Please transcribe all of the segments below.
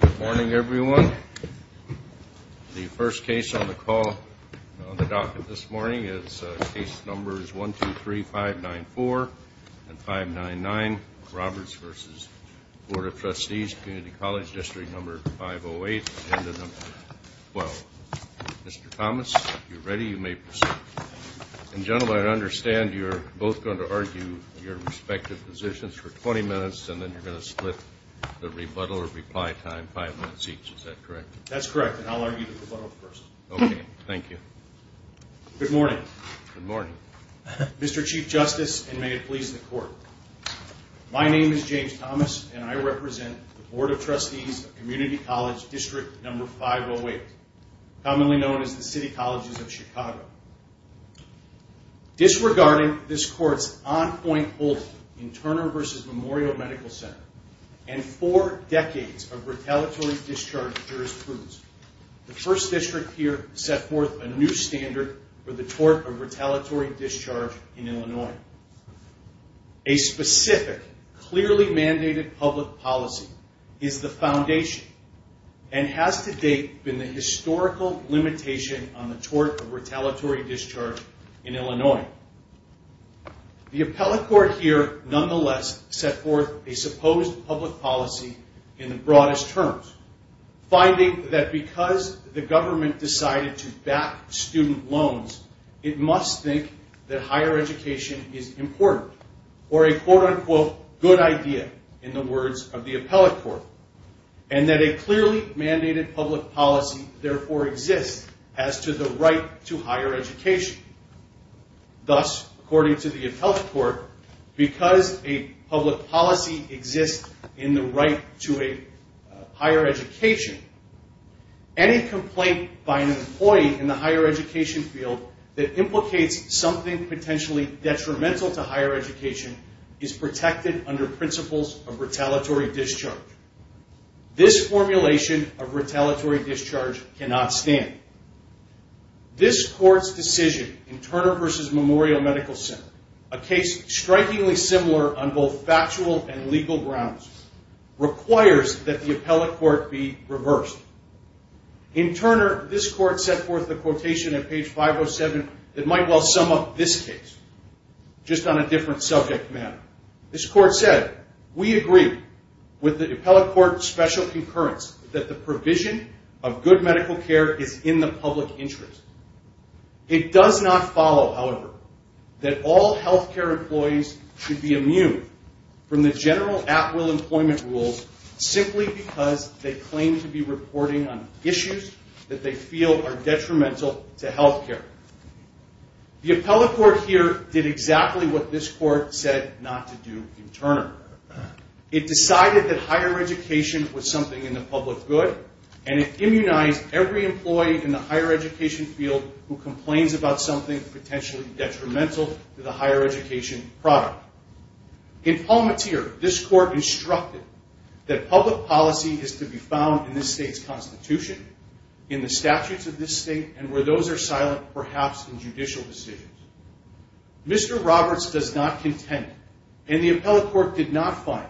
Good morning everyone. The first case on the call, on the docket this morning, is case numbers 1, 2, 3, 5, 9, 4 and 5, 9, 9, Roberts v. Board of Trustees Community College District No. 508, Agenda No. 12. Mr. Thomas, if you're ready, you may proceed. And gentlemen, I understand you're both going to argue your respective positions for 20 minutes and then you're going to split the rebuttal or reply time five minutes each, is that correct? That's correct, and I'll argue the rebuttal first. Okay, thank you. Good morning. Good morning. Mr. Chief Justice, and may it please the Court, my name is James Thomas and I represent the Board of Trustees of Community College District No. 508, commonly known as the City Colleges of Chicago. Disregarding this Court's on-point holding in Turner v. Memorial Medical Center and four decades of retaliatory discharge jurisprudence, the First District here set forth a new standard for the tort of retaliatory discharge in Illinois. A specific, clearly mandated public policy is the foundation and has to date been the historical limitation on the tort of retaliatory discharge in Illinois. The appellate court here, nonetheless, set forth a supposed public policy in the broadest terms, finding that because the government decided to back student loans, it must think that higher education is important, or a quote-unquote good idea in the words of the appellate court, and that a clearly mandated public policy therefore exists as to the right to higher education. Thus, according to the appellate court, because a public policy exists in the right to a higher education, any complaint by an employee in the higher education field that implicates something potentially detrimental to higher education is protected under principles of retaliatory discharge. This formulation of retaliatory discharge cannot stand. This Court's decision in Turner v. Memorial Medical Center, a case strikingly similar on both factual and legal grounds, requires that the appellate court be reversed. In Turner, this Court set forth the quotation at page 507 that might well sum up this case, just on a different subject matter. This Court said, we agree with the appellate court's special concurrence that the provision of good medical care is in the public interest. It does not follow, however, that all health care employees should be immune from the general at-will employment rules simply because they claim to be reporting on issues that they feel are detrimental to health care. The appellate court here did exactly what this Court said not to do in Turner. It decided that higher education was something in the public good, and it immunized every employee in the higher education field who complains about something potentially detrimental to the higher education product. In Palmateer, this Court instructed that public policy is to be found in this state's constitution, in the statutes of this state, and where those are silent, perhaps in judicial decisions. Mr. Roberts does not contend, and the appellate court did not find,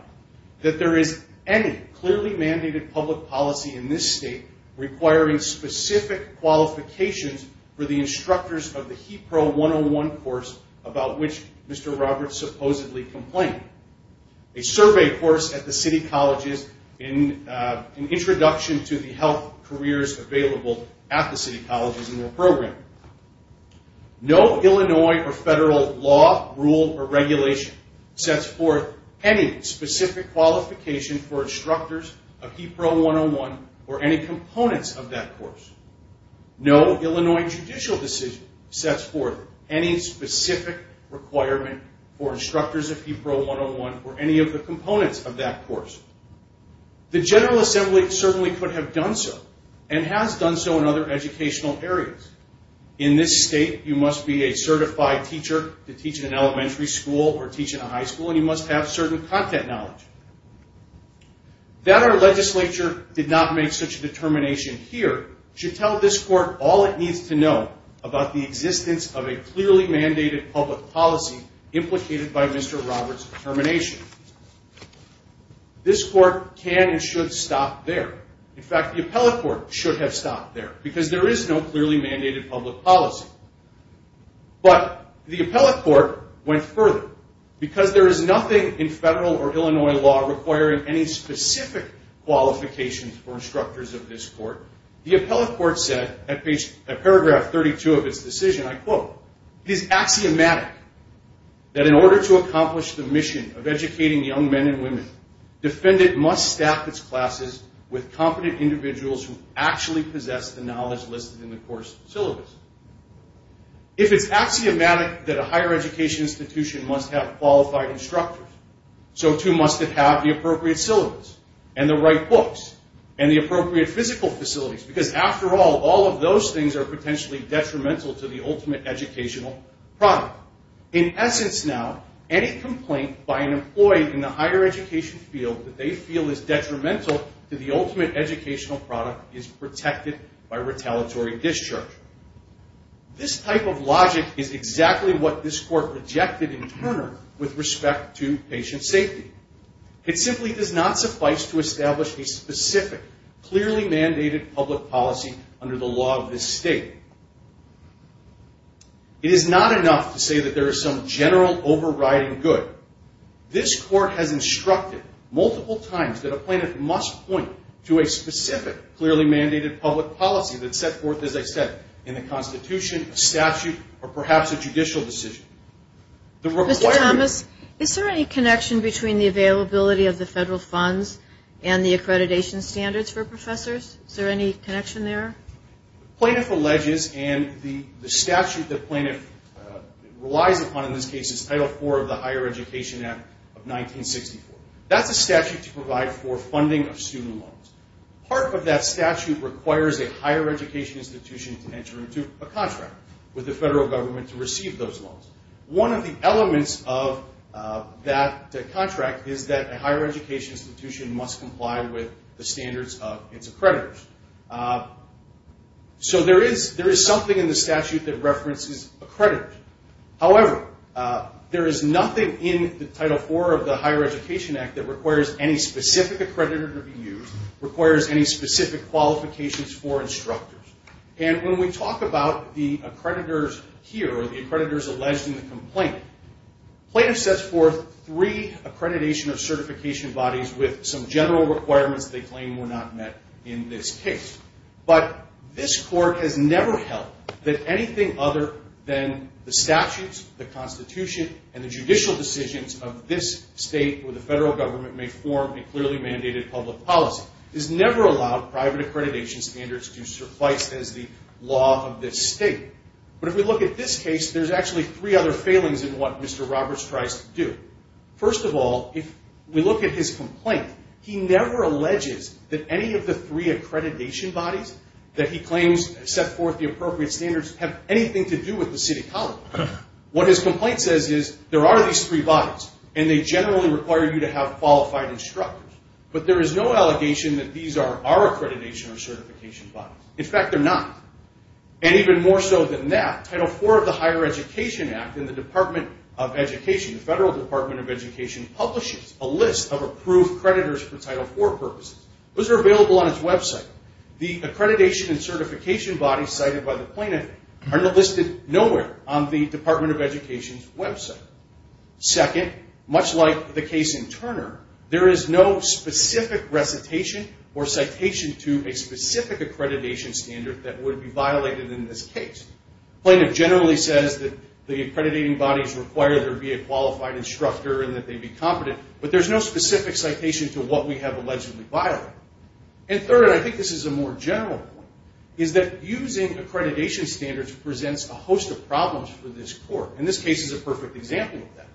that there is any clearly mandated public policy in this state requiring specific qualifications for the instructors of the HEAP Pro 101 course about which Mr. Roberts supposedly complained, a survey course at the city colleges, an introduction to the health careers available at the city colleges and their programs. No Illinois or federal law, rule, or regulation sets forth any specific qualification for instructors of HEAP Pro 101 or any components of that course. No Illinois judicial decision sets forth any specific requirement for instructors of HEAP Pro 101 or any of the components of that course. The General Assembly certainly could have done so, and has done so in other educational areas. In this state, you must be a certified teacher to teach in an elementary school or teach in a high school, and you must have certain content knowledge. That our legislature did not make such a determination here should tell this Court all it needs to know about the existence of a clearly mandated public policy implicated by Mr. Roberts' determination. This Court can and should stop there. In fact, the appellate court should have stopped there, because there is no clearly mandated public policy. But the appellate court went further. Because there is nothing in federal or Illinois law requiring any specific qualifications for instructors of this court, the appellate court said at paragraph 32 of its decision, I quote, It is axiomatic that in order to accomplish the mission of educating young men and women, defendant must staff its classes with competent individuals who actually possess the knowledge listed in the course syllabus. If it's axiomatic that a higher education institution must have qualified instructors, so too must it have the appropriate syllabus, and the right books, and the appropriate physical facilities. Because after all, all of those things are potentially detrimental to the ultimate educational product. In essence now, any complaint by an employee in the higher education field that they feel is detrimental to the ultimate educational product is protected by retaliatory discharge. This type of logic is exactly what this Court rejected in Turner with respect to patient safety. It simply does not suffice to establish a specific, clearly mandated public policy under the law of this state. It is not enough to say that there is some general overriding good. This Court has instructed multiple times that a plaintiff must point to a specific, clearly mandated public policy that's set forth, as I said, by the appellate court. This Court has instructed multiple times that a plaintiff must point to a specific, clearly mandated public policy that's set forth, as I said, by the appellate court. One of the elements of that contract is that a higher education institution must comply with the standards of its accreditors. So there is something in the statute that references accreditors. However, there is nothing in the Title IV of the Higher Education Act that requires any specific accreditor to be used, requires any specific qualifications for instructors. And when we talk about the accreditors here, or the accreditors alleged in the complaint, the plaintiff sets forth three accreditation or certification bodies with some general requirements they claim were not met in this case. But this Court has never held that anything other than the statutes, the Constitution, and the judicial decisions of this state, where the federal government may form a clearly mandated public policy, has never allowed private accreditation standards to suffice. But if we look at this case, there's actually three other failings in what Mr. Roberts tries to do. First of all, if we look at his complaint, he never alleges that any of the three accreditation bodies that he claims set forth the appropriate standards have anything to do with the City College. What his complaint says is, there are these three bodies, and they generally require you to have qualified instructors. But there is no allegation that these are our accreditation or certification bodies. In fact, they're not. And even more so than that, Title IV of the Higher Education Act in the Department of Education, the Federal Department of Education, publishes a list of approved creditors for Title IV purposes. Those are available on its website. The accreditation and certification bodies cited by the plaintiff are listed nowhere on the Department of Education's website. Second, much like the case in Turner, there is no specific recitation or citation to a specific accreditation standard that would be violated in this case. The plaintiff generally says that the accrediting bodies require there be a qualified instructor and that they be competent, but there's no specific citation to what we have allegedly violated. And third, and I think this is a more general point, is that using accreditation standards presents a host of problems for this court. And this case is a perfect example of that.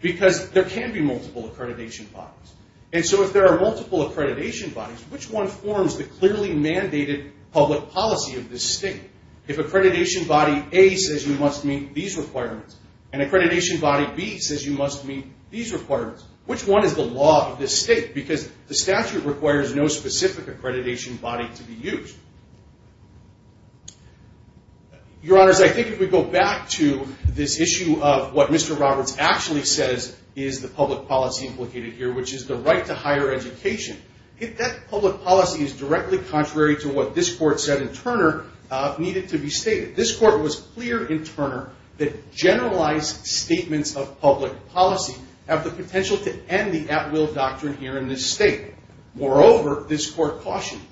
Because there can be multiple accreditation bodies. And so if there are multiple accreditation bodies, which one forms the clearly mandated public policy of this state? If accreditation body A says you must meet these requirements, and accreditation body B says you must meet these requirements, which one is the law of this state? Because the statute requires no specific accreditation body to be used. Your Honors, I think if we go back to this issue of what Mr. Roberts actually says is the public policy implicated here, which is the right to higher education, that public policy is directly contrary to what this court said in Turner needed to be stated. This court was clear in Turner that generalized statements of public policy have the potential to end the at-will doctrine here in this state. Moreover, this court cautioned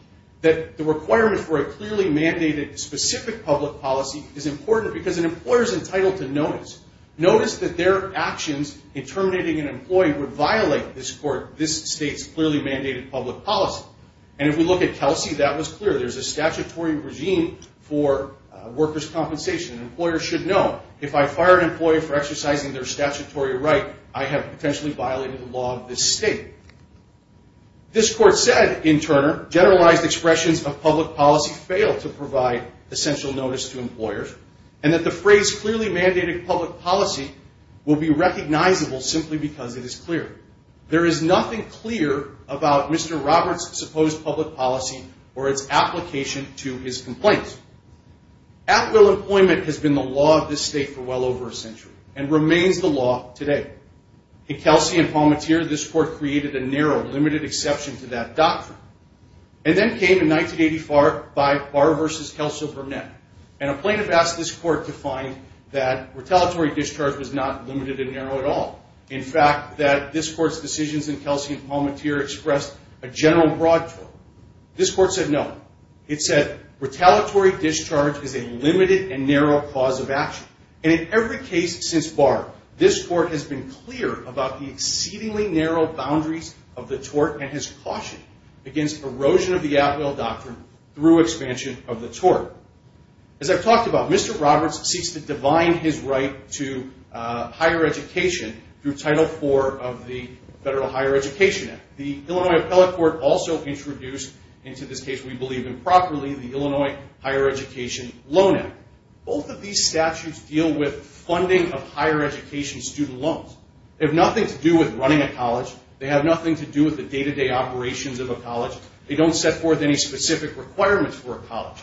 that the requirement for a clearly mandated specific public policy is important because an employer is entitled to notice. Notice that their actions in terminating an employee would violate this court, this state's clearly mandated public policy. And if we look at Kelsey, that was clear. There's a statutory regime for workers' compensation. Employers should know if I fire an employee for exercising their statutory right, I have potentially violated the law of this state. This court said in Turner, generalized expressions of public policy fail to provide essential notice to employers, and that the phrase clearly mandated public policy will be recognizable simply because it is clear. There is nothing clear about Mr. Roberts' supposed public policy or its application to his complaints. At-will employment has been the law of this state for well over a century and remains the law today. In Kelsey and Palmateer, this court created a narrow, limited exception to that doctrine. And then came in 1984 by Barr v. Kelso Burnett, and a plaintiff asked this court to find that retaliatory discharge was not limited and narrow at all. In fact, that this court's decisions in Kelsey and Palmateer expressed a general and broad tort. This court said no. It said retaliatory discharge is a limited and narrow cause of action. And in every case since Barr, this court has been clear about the exceedingly narrow boundaries of the tort and has cautioned against erosion of the at-will doctrine through expansion of the tort. As I've talked about, Mr. Roberts seeks to divine his right to higher education through Title IV of the Federal Higher Education Act. The Illinois Appellate Court also introduced into this case, we believe improperly, the Illinois Higher Education Loan Act. Both of these statutes deal with funding of higher education student loans. They have nothing to do with running a college. They have nothing to do with the day-to-day operations of a college. They don't set forth any specific requirements for a college.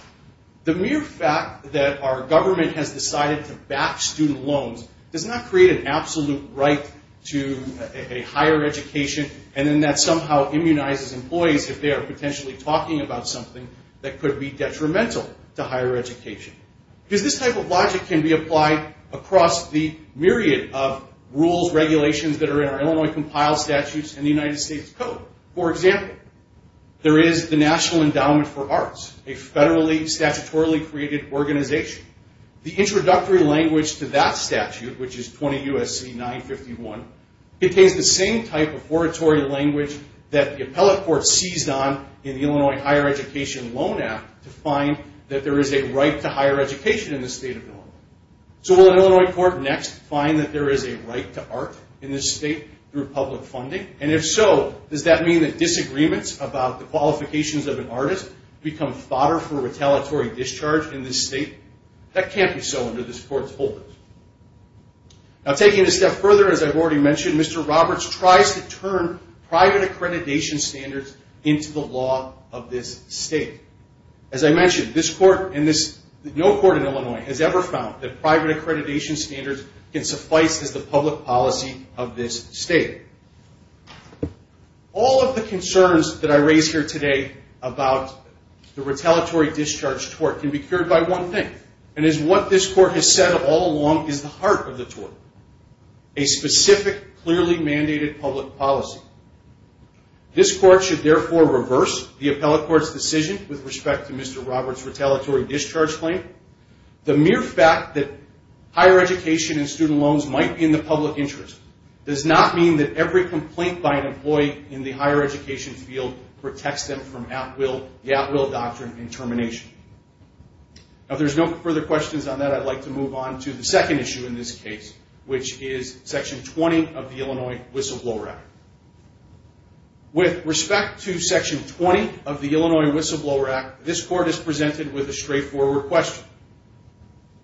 The mere fact that our government has decided to back student loans does not create an absolute right to a higher education and then that somehow immunizes employees if they are potentially talking about something that could be detrimental to higher education. Because this type of logic can be applied across the myriad of rules, regulations that are in our Illinois compiled statutes and the United States Code. For example, there is the National Endowment for Arts, a federally, statutorily created organization. The introductory language to that statute, which is 20 U.S.C. 951, contains the same type of oratory language that the Appellate Court seized on in the Illinois Higher Education Loan Act to find that there is a right to higher education in the state of Illinois. So will an Illinois court next find that there is a right to art in this state through public funding? And if so, does that mean that disagreements about the qualifications of an artist become fodder for retaliatory discharge in this state? That can't be so under this court's holdings. Now taking it a step further, as I've already mentioned, Mr. Roberts tries to turn private accreditation standards into the law of this state. As I mentioned, this court and no court in Illinois has ever found that private accreditation standards can suffice as the public policy of this state. All of the concerns that I raise here today about the retaliatory discharge tort can be cured by one thing, and it is what this court has said all along is the heart of the tort, a specific, clearly mandated public policy. This court should therefore reverse the Appellate Court's decision with respect to Mr. Roberts' retaliatory discharge claim. The mere fact that higher education and student loans might be in the public interest does not mean that every complaint by an employee in the higher education field protects them from the at-will doctrine and termination. Now if there's no further questions on that, I'd like to move on to the second issue in this case, which is Section 20 of the Illinois Whistleblower Act. With respect to Section 20 of the Illinois Whistleblower Act, this court is presented with a straightforward question.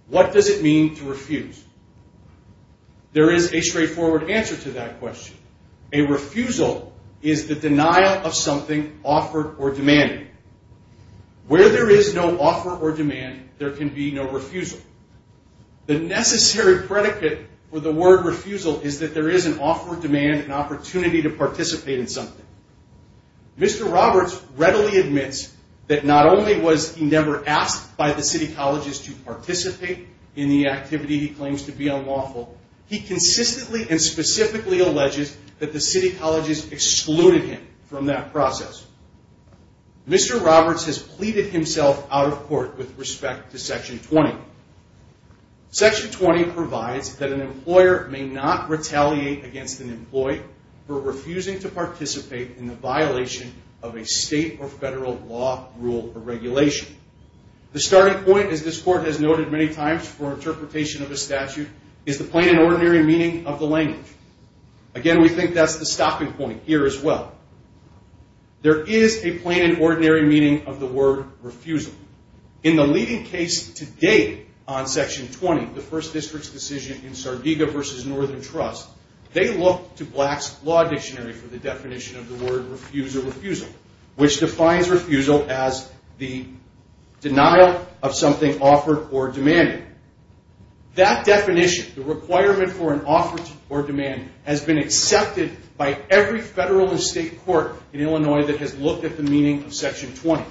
What does it mean to refuse? There is a straightforward answer to that question. A refusal is the denial of something offered or demanded. Where there is no offer or demand, there can be no refusal. The necessary predicate for the word refusal is that there is an offer, demand, and opportunity to participate in something. Mr. Roberts readily admits that not only was he never asked by the City Colleges to participate in the activity he claims to be unlawful, he consistently and specifically alleges that the City Colleges excluded him from that process. Mr. Roberts has pleaded himself out of court with respect to Section 20. Section 20 provides that an employer may not retaliate against an employee for refusing to participate in the violation of a state or federal law, rule, or regulation. The starting point, as this court has noted many times for interpretation of a statute, is the plain and ordinary meaning of the language. Again, we think that's the stopping point here as well. There is a plain and ordinary meaning of the word refusal. In the leading case to date on Section 20, the First District's decision in Sardega v. Northern Trust, they look to Black's Law Dictionary for the definition of the word refusal, which defines refusal as the denial of something offered or demanded. That definition, the requirement for an offer or demand, has been accepted by every federal and state court in Illinois that has looked at the meaning of Section 20.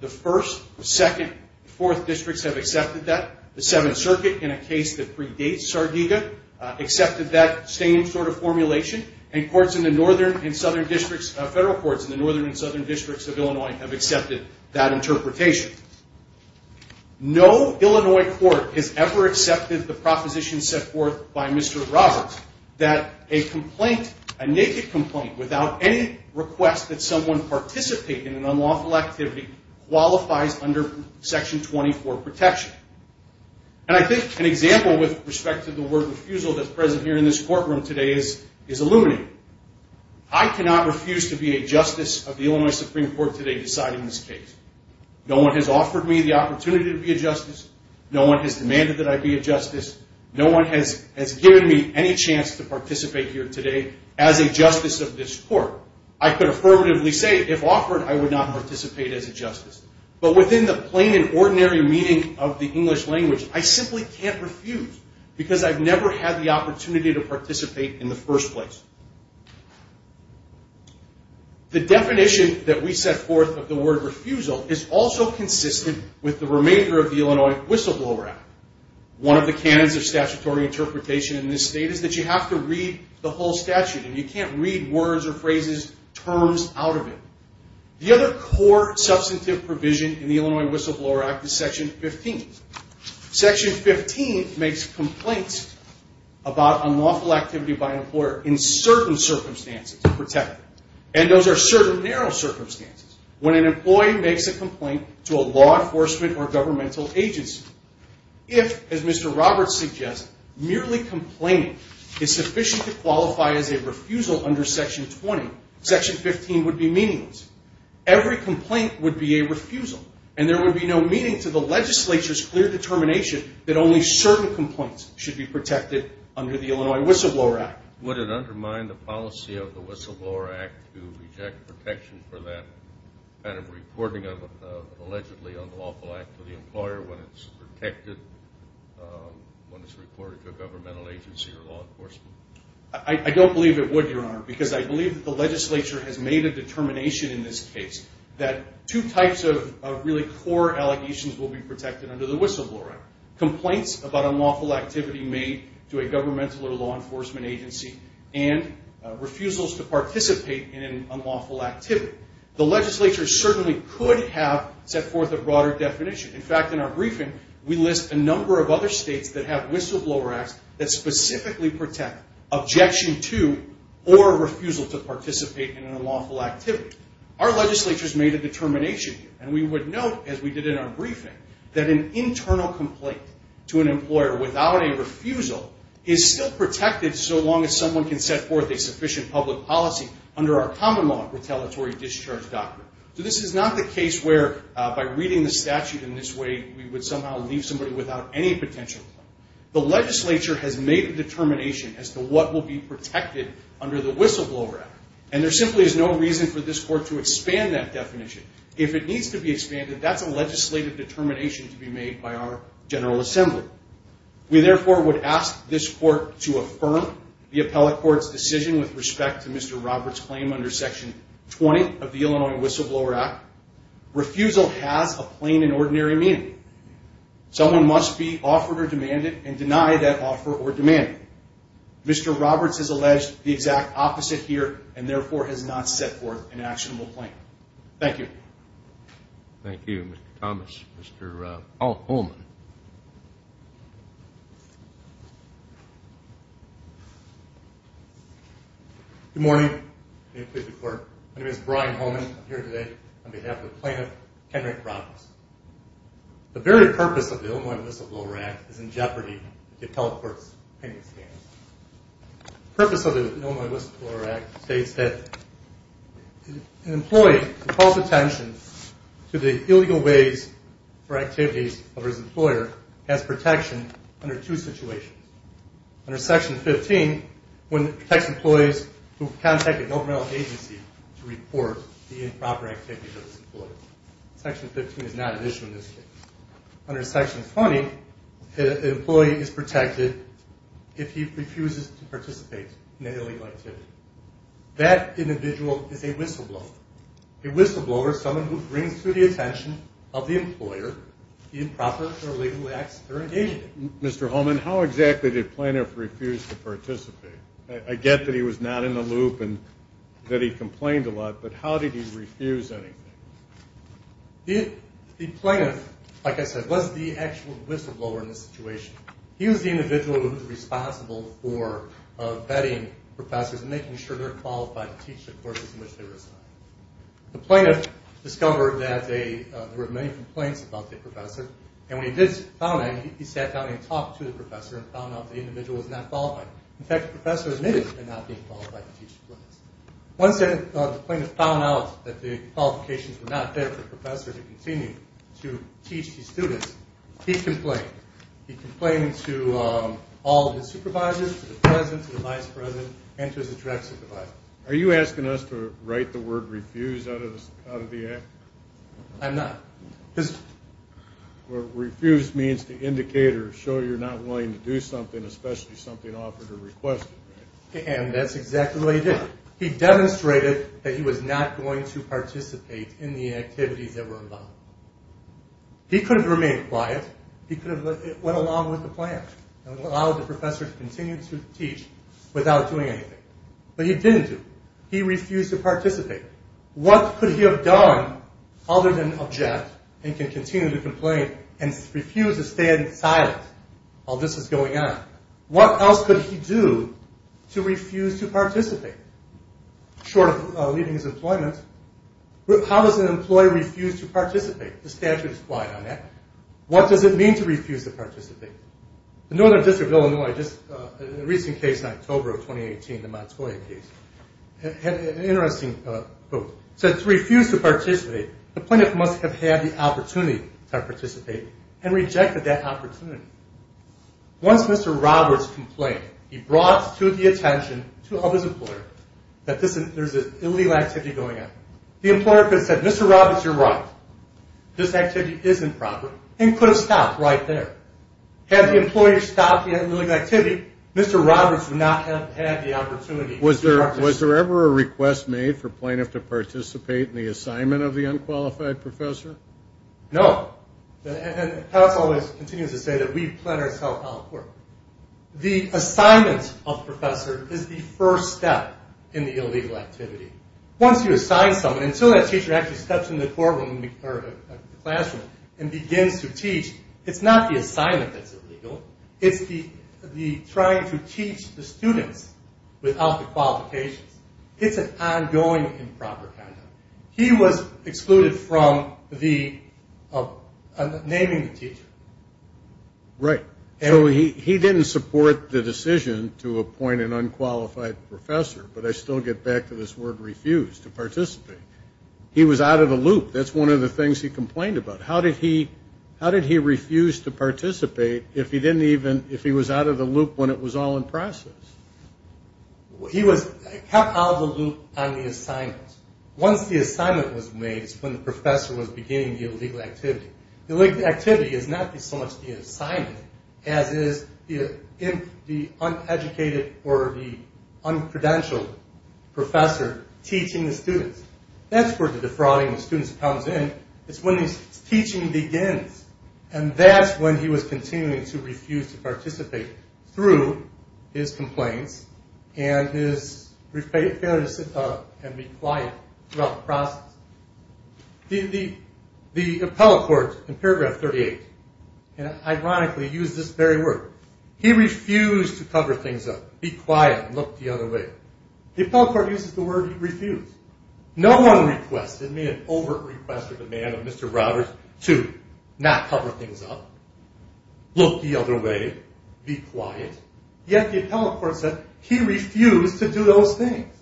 The First, Second, and Fourth Districts have accepted that. The Seventh Circuit, in a case that predates Sardega, accepted that same sort of formulation, and courts in the Northern and Southern Districts of Illinois have accepted that interpretation. No Illinois court has ever accepted the proposition set forth by Mr. Roberts that a complaint, a naked complaint, without any request that someone participate in an unlawful activity qualifies under Section 20 for protection. I think an example with respect to the word refusal that's present here in this courtroom today is illuminating. I cannot refuse to be a justice of the Illinois Supreme Court today deciding this case. No one has offered me the opportunity to be a justice. No one has demanded that I be a justice. No one has given me any chance to participate here today as a justice of this court. I could affirmatively say, if offered, I would not participate as a justice. But within the plain and ordinary meaning of the English language, I simply can't refuse because I've never had the opportunity to participate in the first place. The definition that we set forth of the word refusal is also consistent with the remainder of the Illinois Whistleblower Act. One of the canons of statutory interpretation in this state is that you have to read the whole statute, and you can't read words or phrases, terms out of it. The other core substantive provision in the Illinois Whistleblower Act is Section 15. Section 15 makes complaints about unlawful activity by an employer in certain circumstances, and those are certain narrow circumstances. When an employee makes a complaint to a law enforcement or governmental agency, if, as Mr. Roberts suggests, merely complaining is sufficient to qualify as a refusal under Section 20, Section 15 would be meaningless. Every complaint would be a refusal, and there would be no meaning to the legislature's clear determination that only certain complaints should be protected under the Illinois Whistleblower Act. Would it undermine the policy of the Whistleblower Act to reject protection for that kind of reporting of an allegedly unlawful act to the employer when it's reported to a governmental agency or law enforcement? I don't believe it would, Your Honor, because I believe that the legislature has made a determination in this case that two types of really core allegations will be protected under the Whistleblower Act. Complaints about unlawful activity made to a governmental or law enforcement agency and refusals to participate in unlawful activity. The legislature certainly could have set forth a broader definition. In fact, in our briefing, we list a number of other states that have Whistleblower Acts that specifically protect objection to or refusal to participate in an unlawful activity. Our legislature has made a determination, and we would note, as we did in our briefing, that an internal complaint to an employer without a refusal is still protected so long as someone can set forth a sufficient public policy under our common law retaliatory discharge doctrine. So this is not the case where, by reading the statute in this way, we would somehow leave somebody without any potential. The legislature has made a determination as to what will be protected under the Whistleblower Act, and there simply is no reason for this court to expand that definition. If it needs to be expanded, that's a legislative determination to be made by our General Assembly. We therefore would ask this court to affirm the appellate court's decision with respect to Mr. Roberts' claim under Section 20 of the Illinois Whistleblower Act. Refusal has a plain and ordinary meaning. Someone must be offered or demanded and deny that offer or demand. Mr. Roberts has alleged the exact opposite here and therefore has not set forth an actionable claim. Thank you. Thank you, Mr. Thomas. Mr. Paul Holman. Good morning. My name is Brian Holman. I'm here today on behalf of the plaintiff, Henry Roberts. The very purpose of the Illinois Whistleblower Act is in jeopardy to the appellate court's opinion standards. The purpose of the Illinois Whistleblower Act states that an employee who calls attention to the illegal ways or activities of his employer has protection under two situations. Under Section 15, when it protects employees who contact a governmental agency to report the improper activities of his employer. Section 15 is not an issue in this case. Under Section 20, an employee is protected if he refuses to participate in an illegal activity. That individual is a whistleblower. A whistleblower is someone who brings to the attention of the employer the improper or illegal acts they're engaging in. Mr. Holman, how exactly did the plaintiff refuse to participate? I get that he was not in the loop and that he complained a lot, but how did he refuse anything? The plaintiff, like I said, was the actual whistleblower in this situation. He was the individual who was responsible for vetting professors and making sure they were qualified to teach the courses in which they were assigned. The plaintiff discovered that there were many complaints about the professor, and when he did found out, he sat down and talked to the professor and found out that the individual was not qualified. In fact, the professor admitted to not being qualified to teach. Once the plaintiff found out that the qualifications were not there for the professor to continue to teach the students, he complained. He complained to all of his supervisors, to the president, to the vice president, and to his direct supervisor. Are you asking us to write the word refuse out of the act? I'm not. Refuse means to indicate or show you're not willing to do something, especially something offered or requested, right? And that's exactly what he did. He demonstrated that he was not going to participate in the activities that were involved. He could have remained quiet. He could have went along with the plan and allowed the professor to continue to teach without doing anything, but he didn't do. He refused to participate. What could he have done other than object and continue to complain and refuse to stand silent while this was going on? What else could he do to refuse to participate? Short of leaving his employment, how does an employee refuse to participate? The statute is quiet on that. What does it mean to refuse to participate? The Northern District of Illinois, a recent case in October of 2018, the Montoya case, had an interesting quote. It said to refuse to participate, the plaintiff must have had the opportunity to participate and rejected that opportunity. Once Mr. Roberts complained, he brought to the attention of his employer that there's an illegal activity going on. The employer could have said, Mr. Roberts, you're right. This activity isn't proper and could have stopped right there. Had the employer stopped the illegal activity, Mr. Roberts would not have had the opportunity. Was there ever a request made for plaintiff to participate in the assignment of the unqualified professor? No. And the palace always continues to say that we've planned ourselves out well. The assignment of the professor is the first step in the illegal activity. Once you assign someone, until that teacher actually steps in the classroom and begins to teach, it's not the assignment that's illegal. It's the trying to teach the students without the qualifications. It's an ongoing improper conduct. He was excluded from naming the teacher. Right. So he didn't support the decision to appoint an unqualified professor, but I still get back to this word refuse to participate. He was out of the loop. That's one of the things he complained about. How did he refuse to participate if he was out of the loop when it was all in process? He was kept out of the loop on the assignment. Once the assignment was made, it's when the professor was beginning the illegal activity. The illegal activity is not so much the assignment as is the uneducated or the uncredentialed professor teaching the students. That's where the defrauding of students comes in. It's when the teaching begins. That's when he was continuing to refuse to participate through his complaints and his failure to sit up and be quiet throughout the process. The appellate court in paragraph 38 ironically used this very word. He refused to cover things up, be quiet, and look the other way. The appellate court uses the word refuse. No one requested me, an overt request or demand of Mr. Roberts, to not cover things up, look the other way, be quiet. Yet the appellate court said he refused to do those things.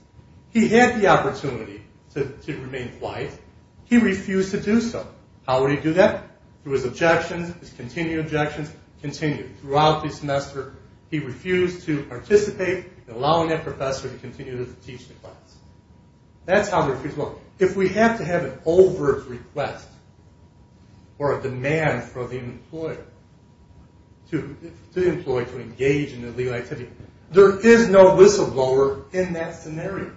He had the opportunity to remain quiet. He refused to do so. How would he do that? Through his objections, his continued objections, continued throughout the semester. He refused to participate, allowing that professor to continue to teach the class. That's how refuse works. If we have to have an overt request or a demand from the employer to the employee to engage in illegal activity, there is no whistleblower in that scenario.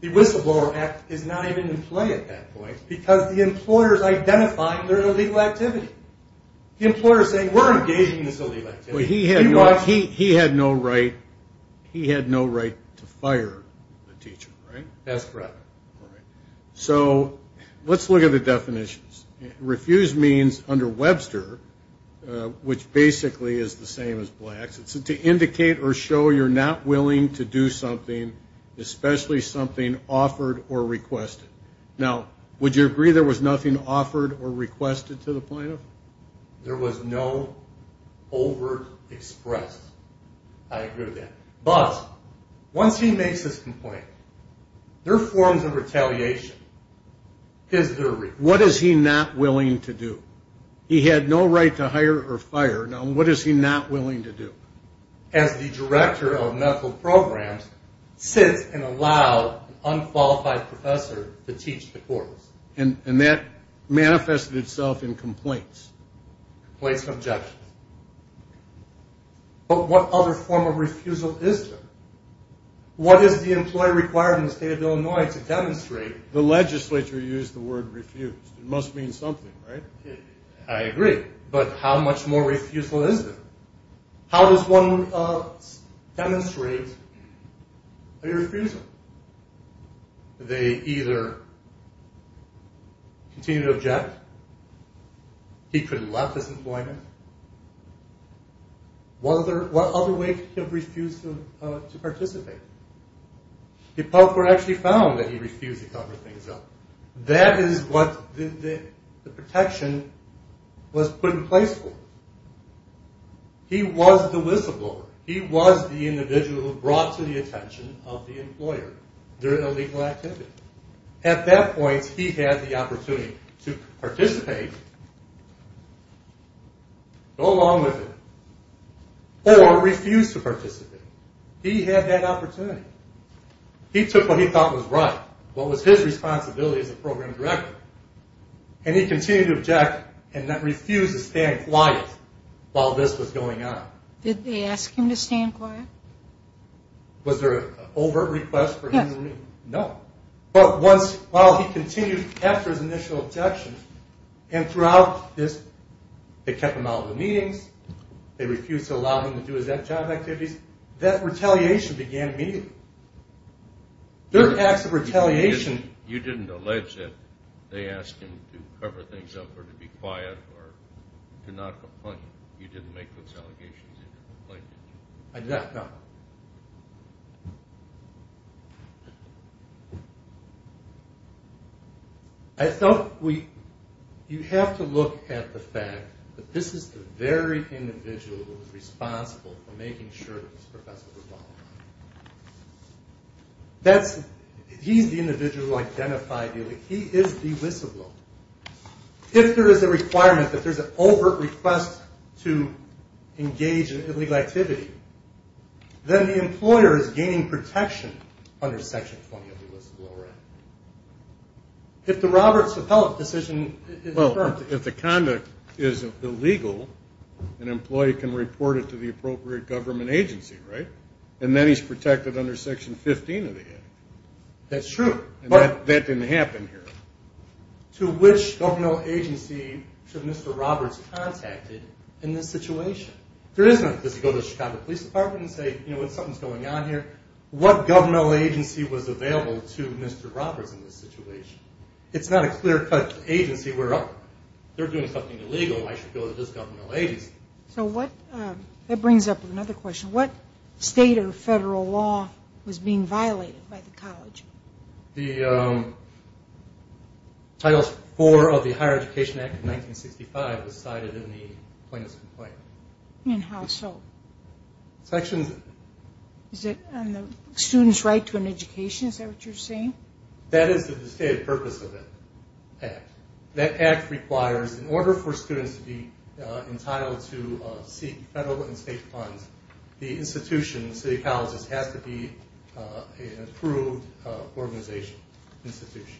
The Whistleblower Act is not even in play at that point because the employer is identifying their illegal activity. The employer is saying, we're engaging in this illegal activity. He had no right to fire the teacher, right? That's correct. Let's look at the definitions. Refuse means under Webster, which basically is the same as Blacks, it's to indicate or show you're not willing to do something, especially something offered or requested. Now, would you agree there was nothing offered or requested to the plaintiff? There was no overt express. I agree with that. But once he makes his complaint, there are forms of retaliation. What is he not willing to do? He had no right to hire or fire. Now, what is he not willing to do? As the director of medical programs sits and allows an unqualified professor to teach the course. And that manifested itself in complaints. Complaints and objections. But what other form of refusal is there? What is the employee required in the state of Illinois to demonstrate? The legislature used the word refused. It must mean something, right? I agree. But how much more refusal is there? How does one demonstrate a refusal? They either continue to object. He could have left his employment. What other way could he have refused to participate? The public court actually found that he refused to cover things up. That is what the protection was put in place for. He was the whistleblower. He was the individual who brought to the attention of the employer during a legal activity. At that point, he had the opportunity to participate, go along with it, or refuse to participate. He had that opportunity. He took what he thought was right, what was his responsibility as a program director. And he continued to object and then refused to stand quiet while this was going on. Did they ask him to stand quiet? Was there an overt request for him to remain? Yes. No. But while he continued after his initial objections and throughout this, they kept him out of the meetings, they refused to allow him to do his that job activities, that retaliation began immediately. There are acts of retaliation. You didn't allege that they asked him to cover things up or to be quiet or to not complain. You didn't make those allegations and complain. I did not, no. I thought we – you have to look at the fact that this is the very individual who is responsible for making sure that this professor was qualified. That's – he's the individual identified illegally. He is delicible. If there is a requirement that there's an overt request to engage in illegal activity, then the employer is gaining protection under Section 20 of the Elisiblo Act. If the Robert Cepelic decision is affirmed. If the conduct is illegal, an employee can report it to the appropriate government agency, right? And then he's protected under Section 15 of the Act. That's true. That didn't happen here. To which governmental agency should Mr. Roberts contact it in this situation? There is no – does he go to the Chicago Police Department and say, you know, something's going on here? What governmental agency was available to Mr. Roberts in this situation? It's not a clear-cut agency where, oh, they're doing something illegal. I should go to this governmental agency. So what – that brings up another question. What state or federal law was being violated by the college? The Title IV of the Higher Education Act of 1965 was cited in the plaintiff's complaint. And how so? Section – Is it on the student's right to an education? Is that what you're saying? That is the stated purpose of the Act. That Act requires, in order for students to be entitled to seek federal and state funds, the institution, the city colleges, has to be an approved organization, institution.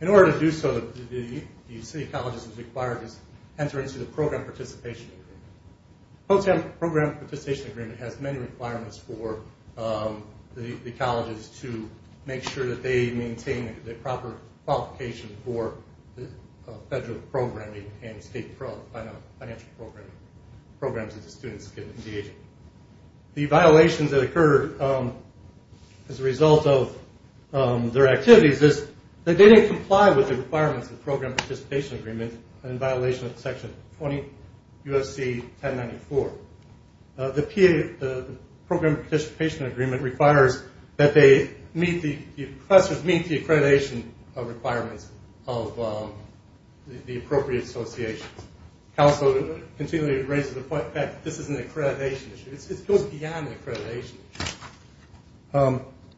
In order to do so, the city colleges are required to enter into the Program Participation Agreement. Program Participation Agreement has many requirements for the colleges to make sure that they maintain the proper qualification for federal programming and state financial programs that the students get in the agency. The violations that occur as a result of their activities is that they didn't comply with the requirements of the Program Participation Agreement in violation of Section 20 U.S.C. 1094. The Program Participation Agreement requires that the professors meet the accreditation requirements of the appropriate associations. Counsel continually raises the point that this is an accreditation issue. It goes beyond accreditation.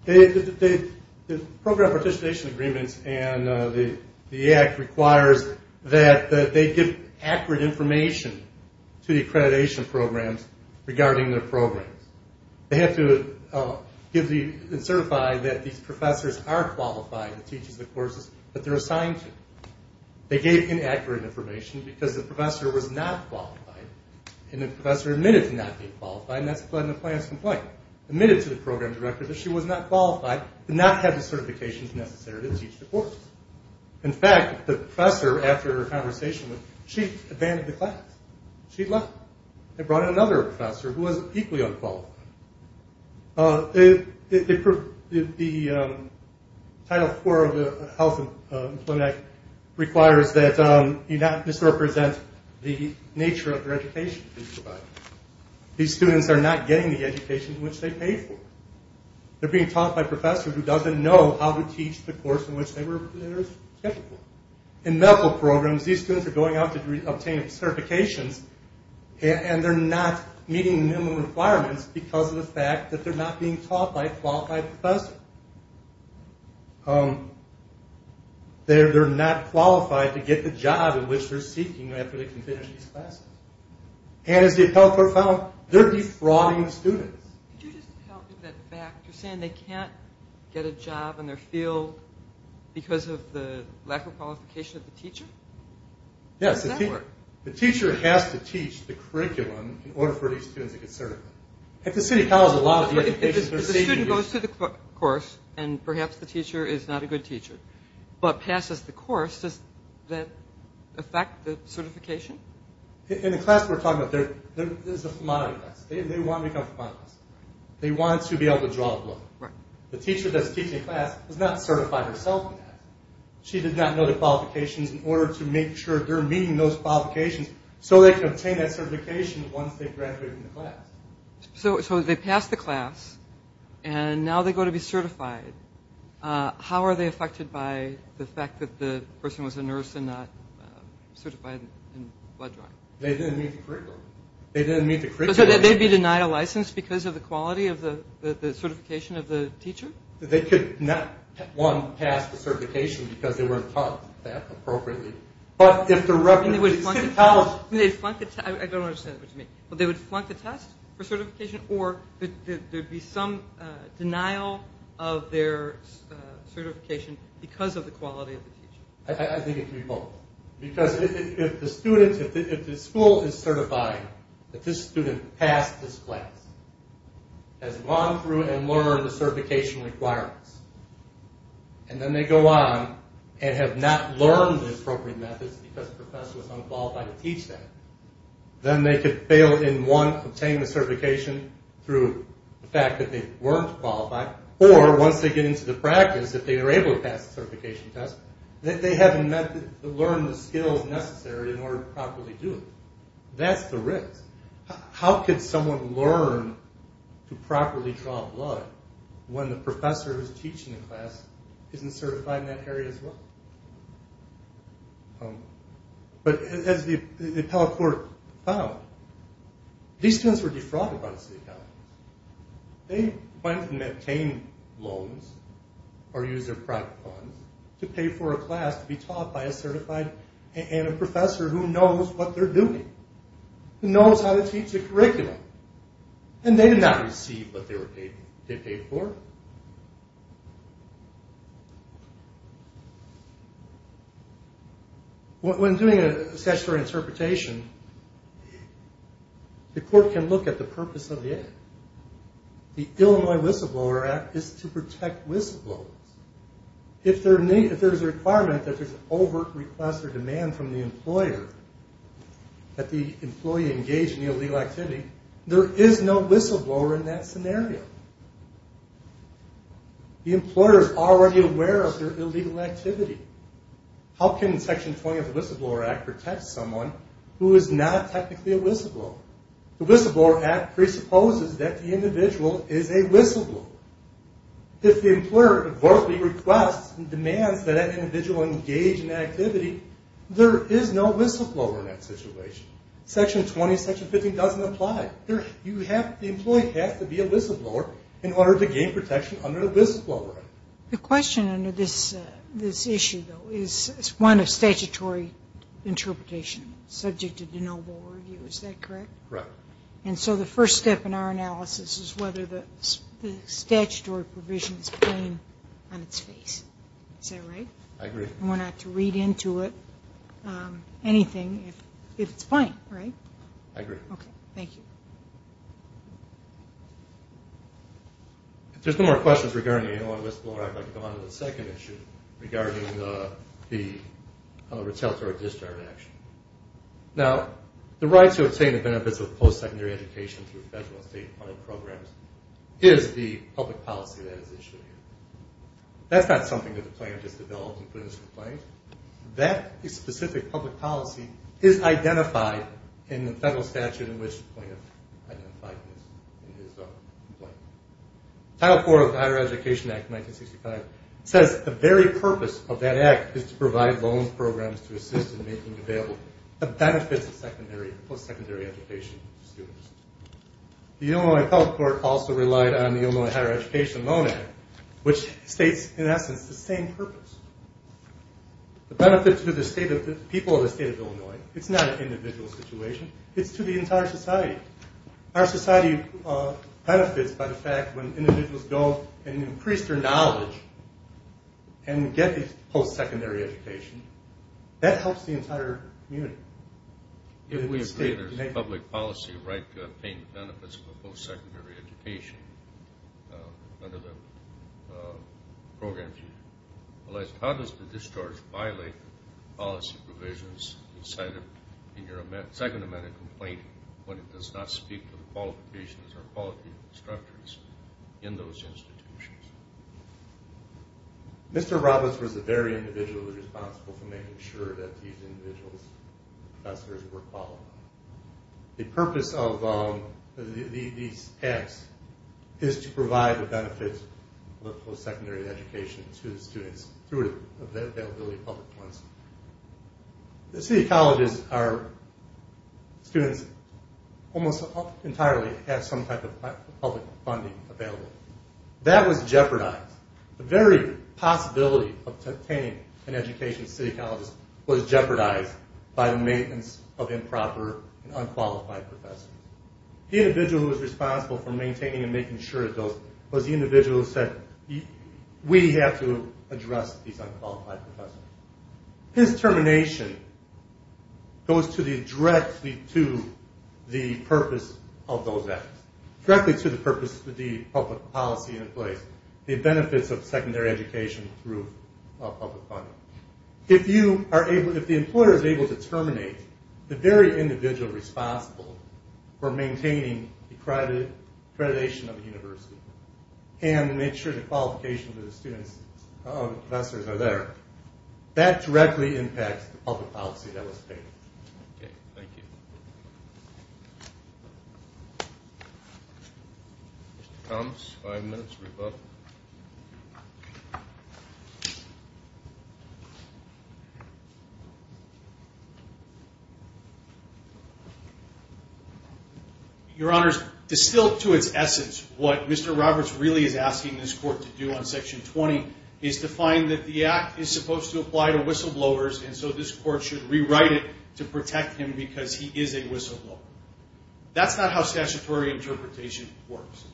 The Program Participation Agreement and the Act requires that they give accurate information to the accreditation programs regarding their programs. They have to certify that these professors are qualified to teach the courses that they're assigned to. They gave inaccurate information because the professor was not qualified, and the professor admitted to not being qualified, and that's a flood in the plans complaint. Admitted to the program director that she was not qualified, In fact, the professor, after her conversation, she abandoned the class. She left. They brought in another professor who was equally unqualified. The Title IV of the Health Employment Act requires that you not misrepresent the nature of your education. These students are not getting the education which they pay for. They're being taught by a professor who doesn't know how to teach the course in which they're typical. In medical programs, these students are going out to obtain certifications, and they're not meeting the minimum requirements because of the fact that they're not being taught by a qualified professor. They're not qualified to get the job in which they're seeking after they can finish these classes. And as the appellate court found, they're defrauding the students. Could you just help with that fact? You're saying they can't get a job in their field because of the lack of qualification of the teacher? Yes. How does that work? The teacher has to teach the curriculum in order for these students to get certified. At the city college, a lot of the education they're seeking... If the student goes through the course, and perhaps the teacher is not a good teacher, but passes the course, does that affect the certification? In the class we're talking about, this is a phlemonic class. They want to become phlemonics. They want to be able to draw a book. The teacher that's teaching the class is not certified herself yet. She did not know the qualifications in order to make sure they're meeting those qualifications so they can obtain that certification once they graduate from the class. So they pass the class, and now they go to be certified. How are they affected by the fact that the person was a nurse and not certified in blood drawing? They didn't meet the curriculum. They didn't meet the curriculum? So they'd be denied a license because of the quality of the certification of the teacher? They could not, one, pass the certification because they weren't taught that appropriately. But if the representative... I don't understand what you mean. They would flunk the test for certification? Or there would be some denial of their certification because of the quality of the teacher? I think it could be both. Because if the school is certifying that this student passed this class, has gone through and learned the certification requirements, and then they go on and have not learned the appropriate methods because the professor was unqualified to teach them, then they could fail in, one, obtaining the certification through the fact that they weren't qualified, or once they get into the practice, if they are able to pass the certification test, they haven't learned the skills necessary in order to properly do it. That's the risk. How could someone learn to properly draw blood when the professor who's teaching the class isn't certified in that area as well? But as the appellate court found, these students were defrauded by the state government. They went and obtained loans or used their private funds to pay for a class to be taught by a certified... and a professor who knows what they're doing, who knows how to teach a curriculum. And they did not receive what they paid for. When doing a statutory interpretation, the court can look at the purpose of the act. The Illinois Whistleblower Act is to protect whistleblowers. If there's a requirement that there's an overt request or demand from the employer that the employee engage in the illegal activity, there is no whistleblower in that scenario. The employer is already aware of their illegal activity. How can Section 20 of the Whistleblower Act protect someone who is not technically a whistleblower? The Whistleblower Act presupposes that the individual is a whistleblower. If the employer overtly requests and demands that that individual engage in activity, there is no whistleblower in that situation. Section 20, Section 15 doesn't apply. The employee has to be a whistleblower in order to gain protection under the Whistleblower Act. The question under this issue, though, is one of statutory interpretation, subject to de novo review. Is that correct? Correct. And so the first step in our analysis is whether the statutory provision is plain on its face. Is that right? I agree. And we're not to read into it anything if it's plain, right? I agree. Okay. Thank you. If there's no more questions regarding the Whistleblower Act, I'd like to go on to the second issue regarding the retaliatory discharge action. Now, the right to obtain the benefits of post-secondary education through federal and state-funded programs is the public policy that is issued here. That's not something that the plan has developed and put into place. That specific public policy is identified in the federal statute in which the plan is identified. Title IV of the Higher Education Act of 1965 says the very purpose of that act is to provide loan programs to assist in making available the benefits of post-secondary education to students. The Illinois Health Court also relied on the Illinois Higher Education Loan Act, which states, in essence, the same purpose. The benefits to the people of the state of Illinois. It's not an individual situation. It's to the entire society. Our society benefits by the fact when individuals go and increase their knowledge and get a post-secondary education. That helps the entire community. If we state there's a public policy right to obtain the benefits of a post-secondary education under the program, how does the discharge violate policy provisions in your second amendment complaint when it does not speak to the qualifications or quality of instructors in those institutions? Mr. Roberts was very individually responsible for making sure that these individuals, professors, were qualified. The purpose of these acts is to provide the benefits of post-secondary education to the students through the availability of public funds. The city colleges, our students, almost entirely have some type of public funding available. That was jeopardized. The very possibility of obtaining an education at city colleges was jeopardized by the maintenance of improper and unqualified professors. The individual who was responsible for maintaining and making sure of those was the individual who said, we have to address these unqualified professors. His termination goes directly to the purpose of those acts. Directly to the purpose of the public policy in place. The benefits of secondary education through public funding. If the employer is able to terminate the very individual responsible for maintaining the accreditation of the university and make sure the qualifications of the students and professors are there, that directly impacts the public policy that was taken. Thank you. Mr. Thomas, five minutes for your vote. Your Honors, distilled to its essence, what Mr. Roberts really is asking this court to do on Section 20 is to find that the act is supposed to apply to whistleblowers, and so this court should rewrite it to protect him because he is a whistleblower. That's not how statutory interpretation works.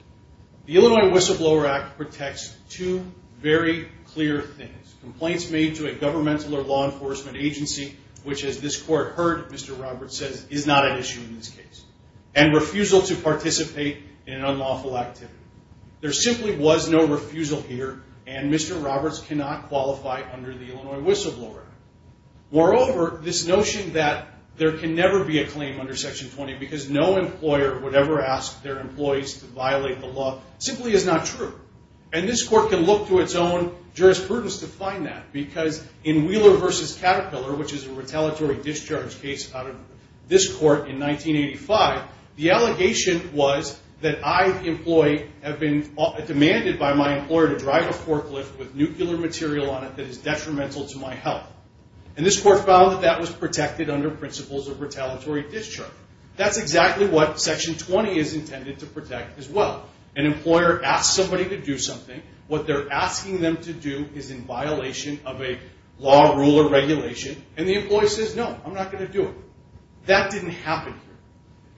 The Illinois Whistleblower Act protects two very clear things. Complaints made to a governmental or law enforcement agency, which as this court heard, Mr. Roberts says, is not an issue in this case. And refusal to participate in an unlawful activity. There simply was no refusal here, and Mr. Roberts cannot qualify under the Illinois Whistleblower Act. Moreover, this notion that there can never be a claim under Section 20 because no employer would ever ask their employees to violate the law simply is not true. And this court can look to its own jurisprudence to find that because in Wheeler v. Caterpillar, which is a retaliatory discharge case out of this court in 1985, the allegation was that I, the employee, have been demanded by my employer to drive a forklift with nuclear material on it that is detrimental to my health. And this court found that that was protected under principles of retaliatory discharge. That's exactly what Section 20 is intended to protect as well. An employer asks somebody to do something. What they're asking them to do is in violation of a law, rule, or regulation, and the employee says, no, I'm not going to do it. That didn't happen here.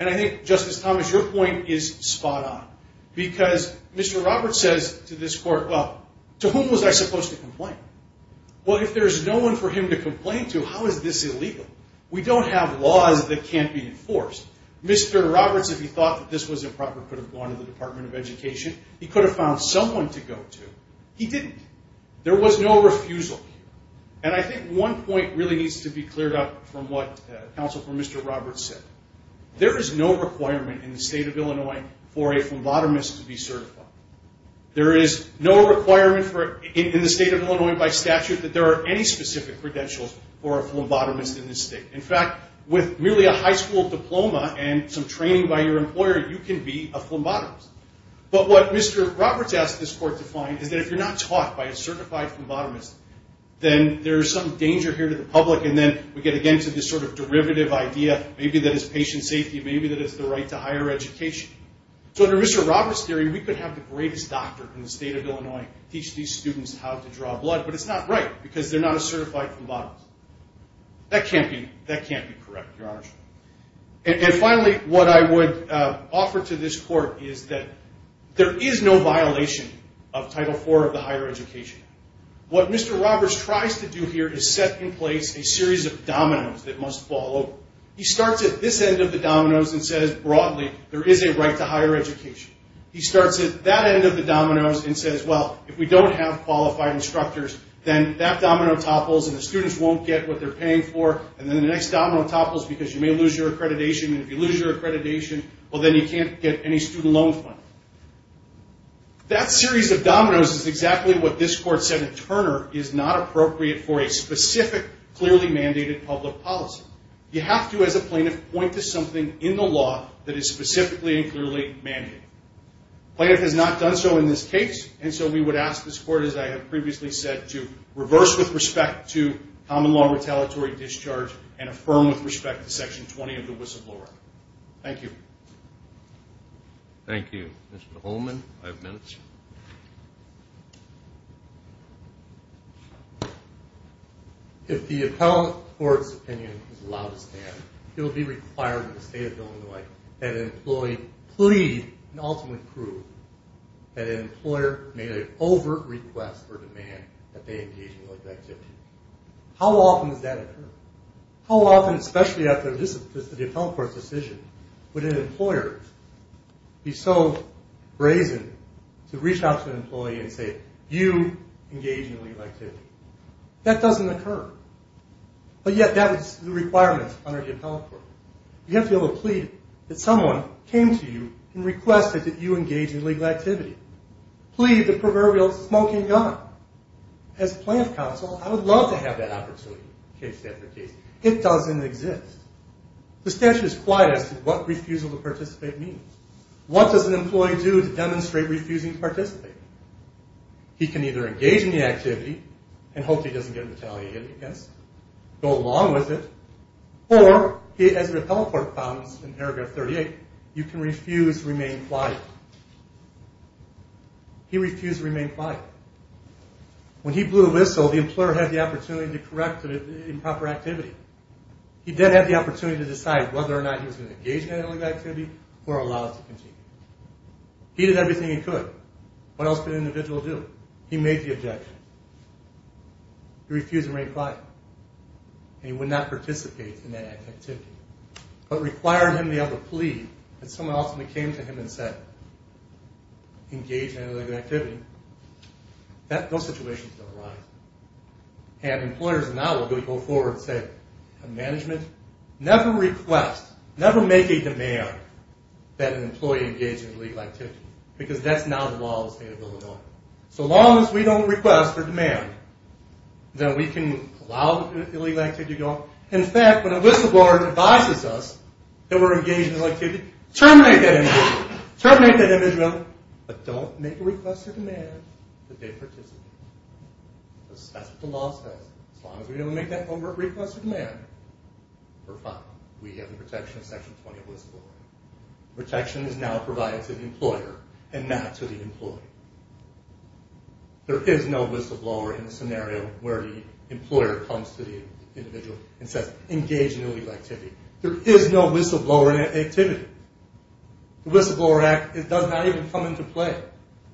And I think, Justice Thomas, your point is spot on because Mr. Roberts says to this court, well, to whom was I supposed to complain? Well, if there's no one for him to complain to, how is this illegal? We don't have laws that can't be enforced. Mr. Roberts, if he thought that this was improper, could have gone to the Department of Education. He could have found someone to go to. He didn't. There was no refusal. And I think one point really needs to be cleared up from what counsel for Mr. Roberts said. There is no requirement in the state of Illinois for a phlebotomist to be certified. There is no requirement in the state of Illinois by statute that there are any specific credentials for a phlebotomist in this state. In fact, with merely a high school diploma and some training by your employer, you can be a phlebotomist. But what Mr. Roberts asked this court to find is that if you're not taught by a certified phlebotomist, then there's some danger here to the public, and then we get again to this sort of derivative idea, maybe that is patient safety, maybe that is the right to higher education. So under Mr. Roberts' theory, we could have the greatest doctor in the state of Illinois teach these students how to draw blood, but it's not right because they're not a certified phlebotomist. That can't be correct, Your Honor. And finally, what I would offer to this court is that there is no violation of Title IV of the higher education. What Mr. Roberts tries to do here is set in place a series of dominoes that must fall over. He starts at this end of the dominoes and says, broadly, there is a right to higher education. He starts at that end of the dominoes and says, well, if we don't have qualified instructors, then that domino topples and the students won't get what they're paying for, and then the next domino topples because you may lose your accreditation, and if you lose your accreditation, well, then you can't get any student loan funding. That series of dominoes is exactly what this court said in Turner is not appropriate for a specific, clearly mandated public policy. You have to, as a plaintiff, point to something in the law that is specifically and clearly mandated. The plaintiff has not done so in this case, and so we would ask this court, as I have previously said, to reverse with respect to common law retaliatory discharge and affirm with respect to Section 20 of the whistleblower act. Thank you. Thank you. Mr. Holman, five minutes. Thank you. If the appellant court's opinion is allowed to stand, it will be required in the state of Illinois that an employee plead and ultimately prove that an employer made an overt request or demand that they engage in a work activity. How often does that occur? How often, especially after the appellant court's decision, would an employer be so brazen to reach out to an employee and say, you engage in legal activity? That doesn't occur. But yet that is the requirement under the appellant court. You have to be able to plead that someone came to you and requested that you engage in legal activity. Plead the proverbial smoking gun. As plaintiff counsel, I would love to have that opportunity case after case. It doesn't exist. The statute is quiet as to what refusal to participate means. What does an employee do to demonstrate refusing to participate? He can either engage in the activity and hope he doesn't get retaliated against, go along with it, or, as the appellant court found in paragraph 38, you can refuse to remain quiet. He refused to remain quiet. When he blew the whistle, the employer had the opportunity to correct the improper activity. He did have the opportunity to decide whether or not he was going to engage in any legal activity or allow it to continue. He did everything he could. What else could an individual do? He made the objection. He refused to remain quiet. And he would not participate in that activity. But requiring him to be able to plead that someone ultimately came to him and said, engage in any legal activity, those situations don't arise. And employers now will go forward and say, management, never request, never make a demand that an employee engage in illegal activity because that's now the law of the state of Illinois. So long as we don't request or demand, then we can allow illegal activity to go on. In fact, when a whistleblower advises us that we're engaged in illegal activity, terminate that individual. But don't make a request or demand that they participate. Because that's what the law says. As long as we don't make that overt request or demand, we're fine. We have the protection of Section 20 of the Whistleblower Act. Protection is now provided to the employer and not to the employee. There is no whistleblower in the scenario where the employer comes to the individual and says, engage in illegal activity. There is no whistleblower in activity. The Whistleblower Act does not even come into play.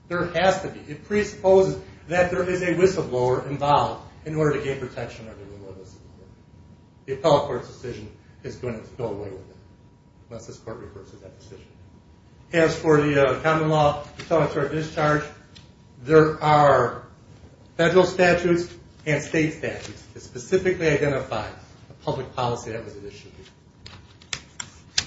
There has to be. It presupposes that there is a whistleblower involved in order to gain protection under the Illinois Whistleblower Act. The appellate court's decision is going to go away with it unless this court reverses that decision. As for the common law, the tele-court discharge, there are federal statutes and state statutes that specifically identify the public policy that was issued.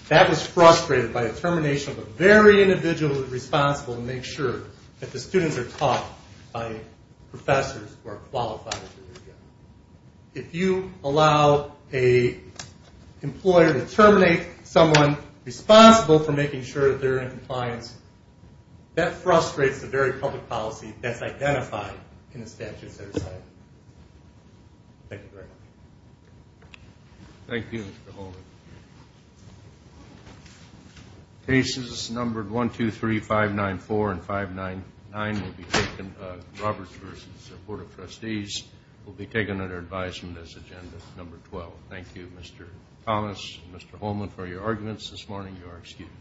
That was frustrated by the termination of a very individual who is responsible to make sure that the students are taught by professors who are qualified. If you allow an employer to terminate someone responsible for making sure that they're in compliance, that frustrates the very public policy that's identified in the statutes that are cited. Thank you very much. Thank you, Mr. Holman. Cases numbered 1, 2, 3, 5, 9, 4, and 5, 9, 9 will be taken, Roberts versus Board of Trustees, will be taken under advisement as agenda number 12. Thank you, Mr. Thomas, Mr. Holman, for your arguments this morning. You are excused. Thank you.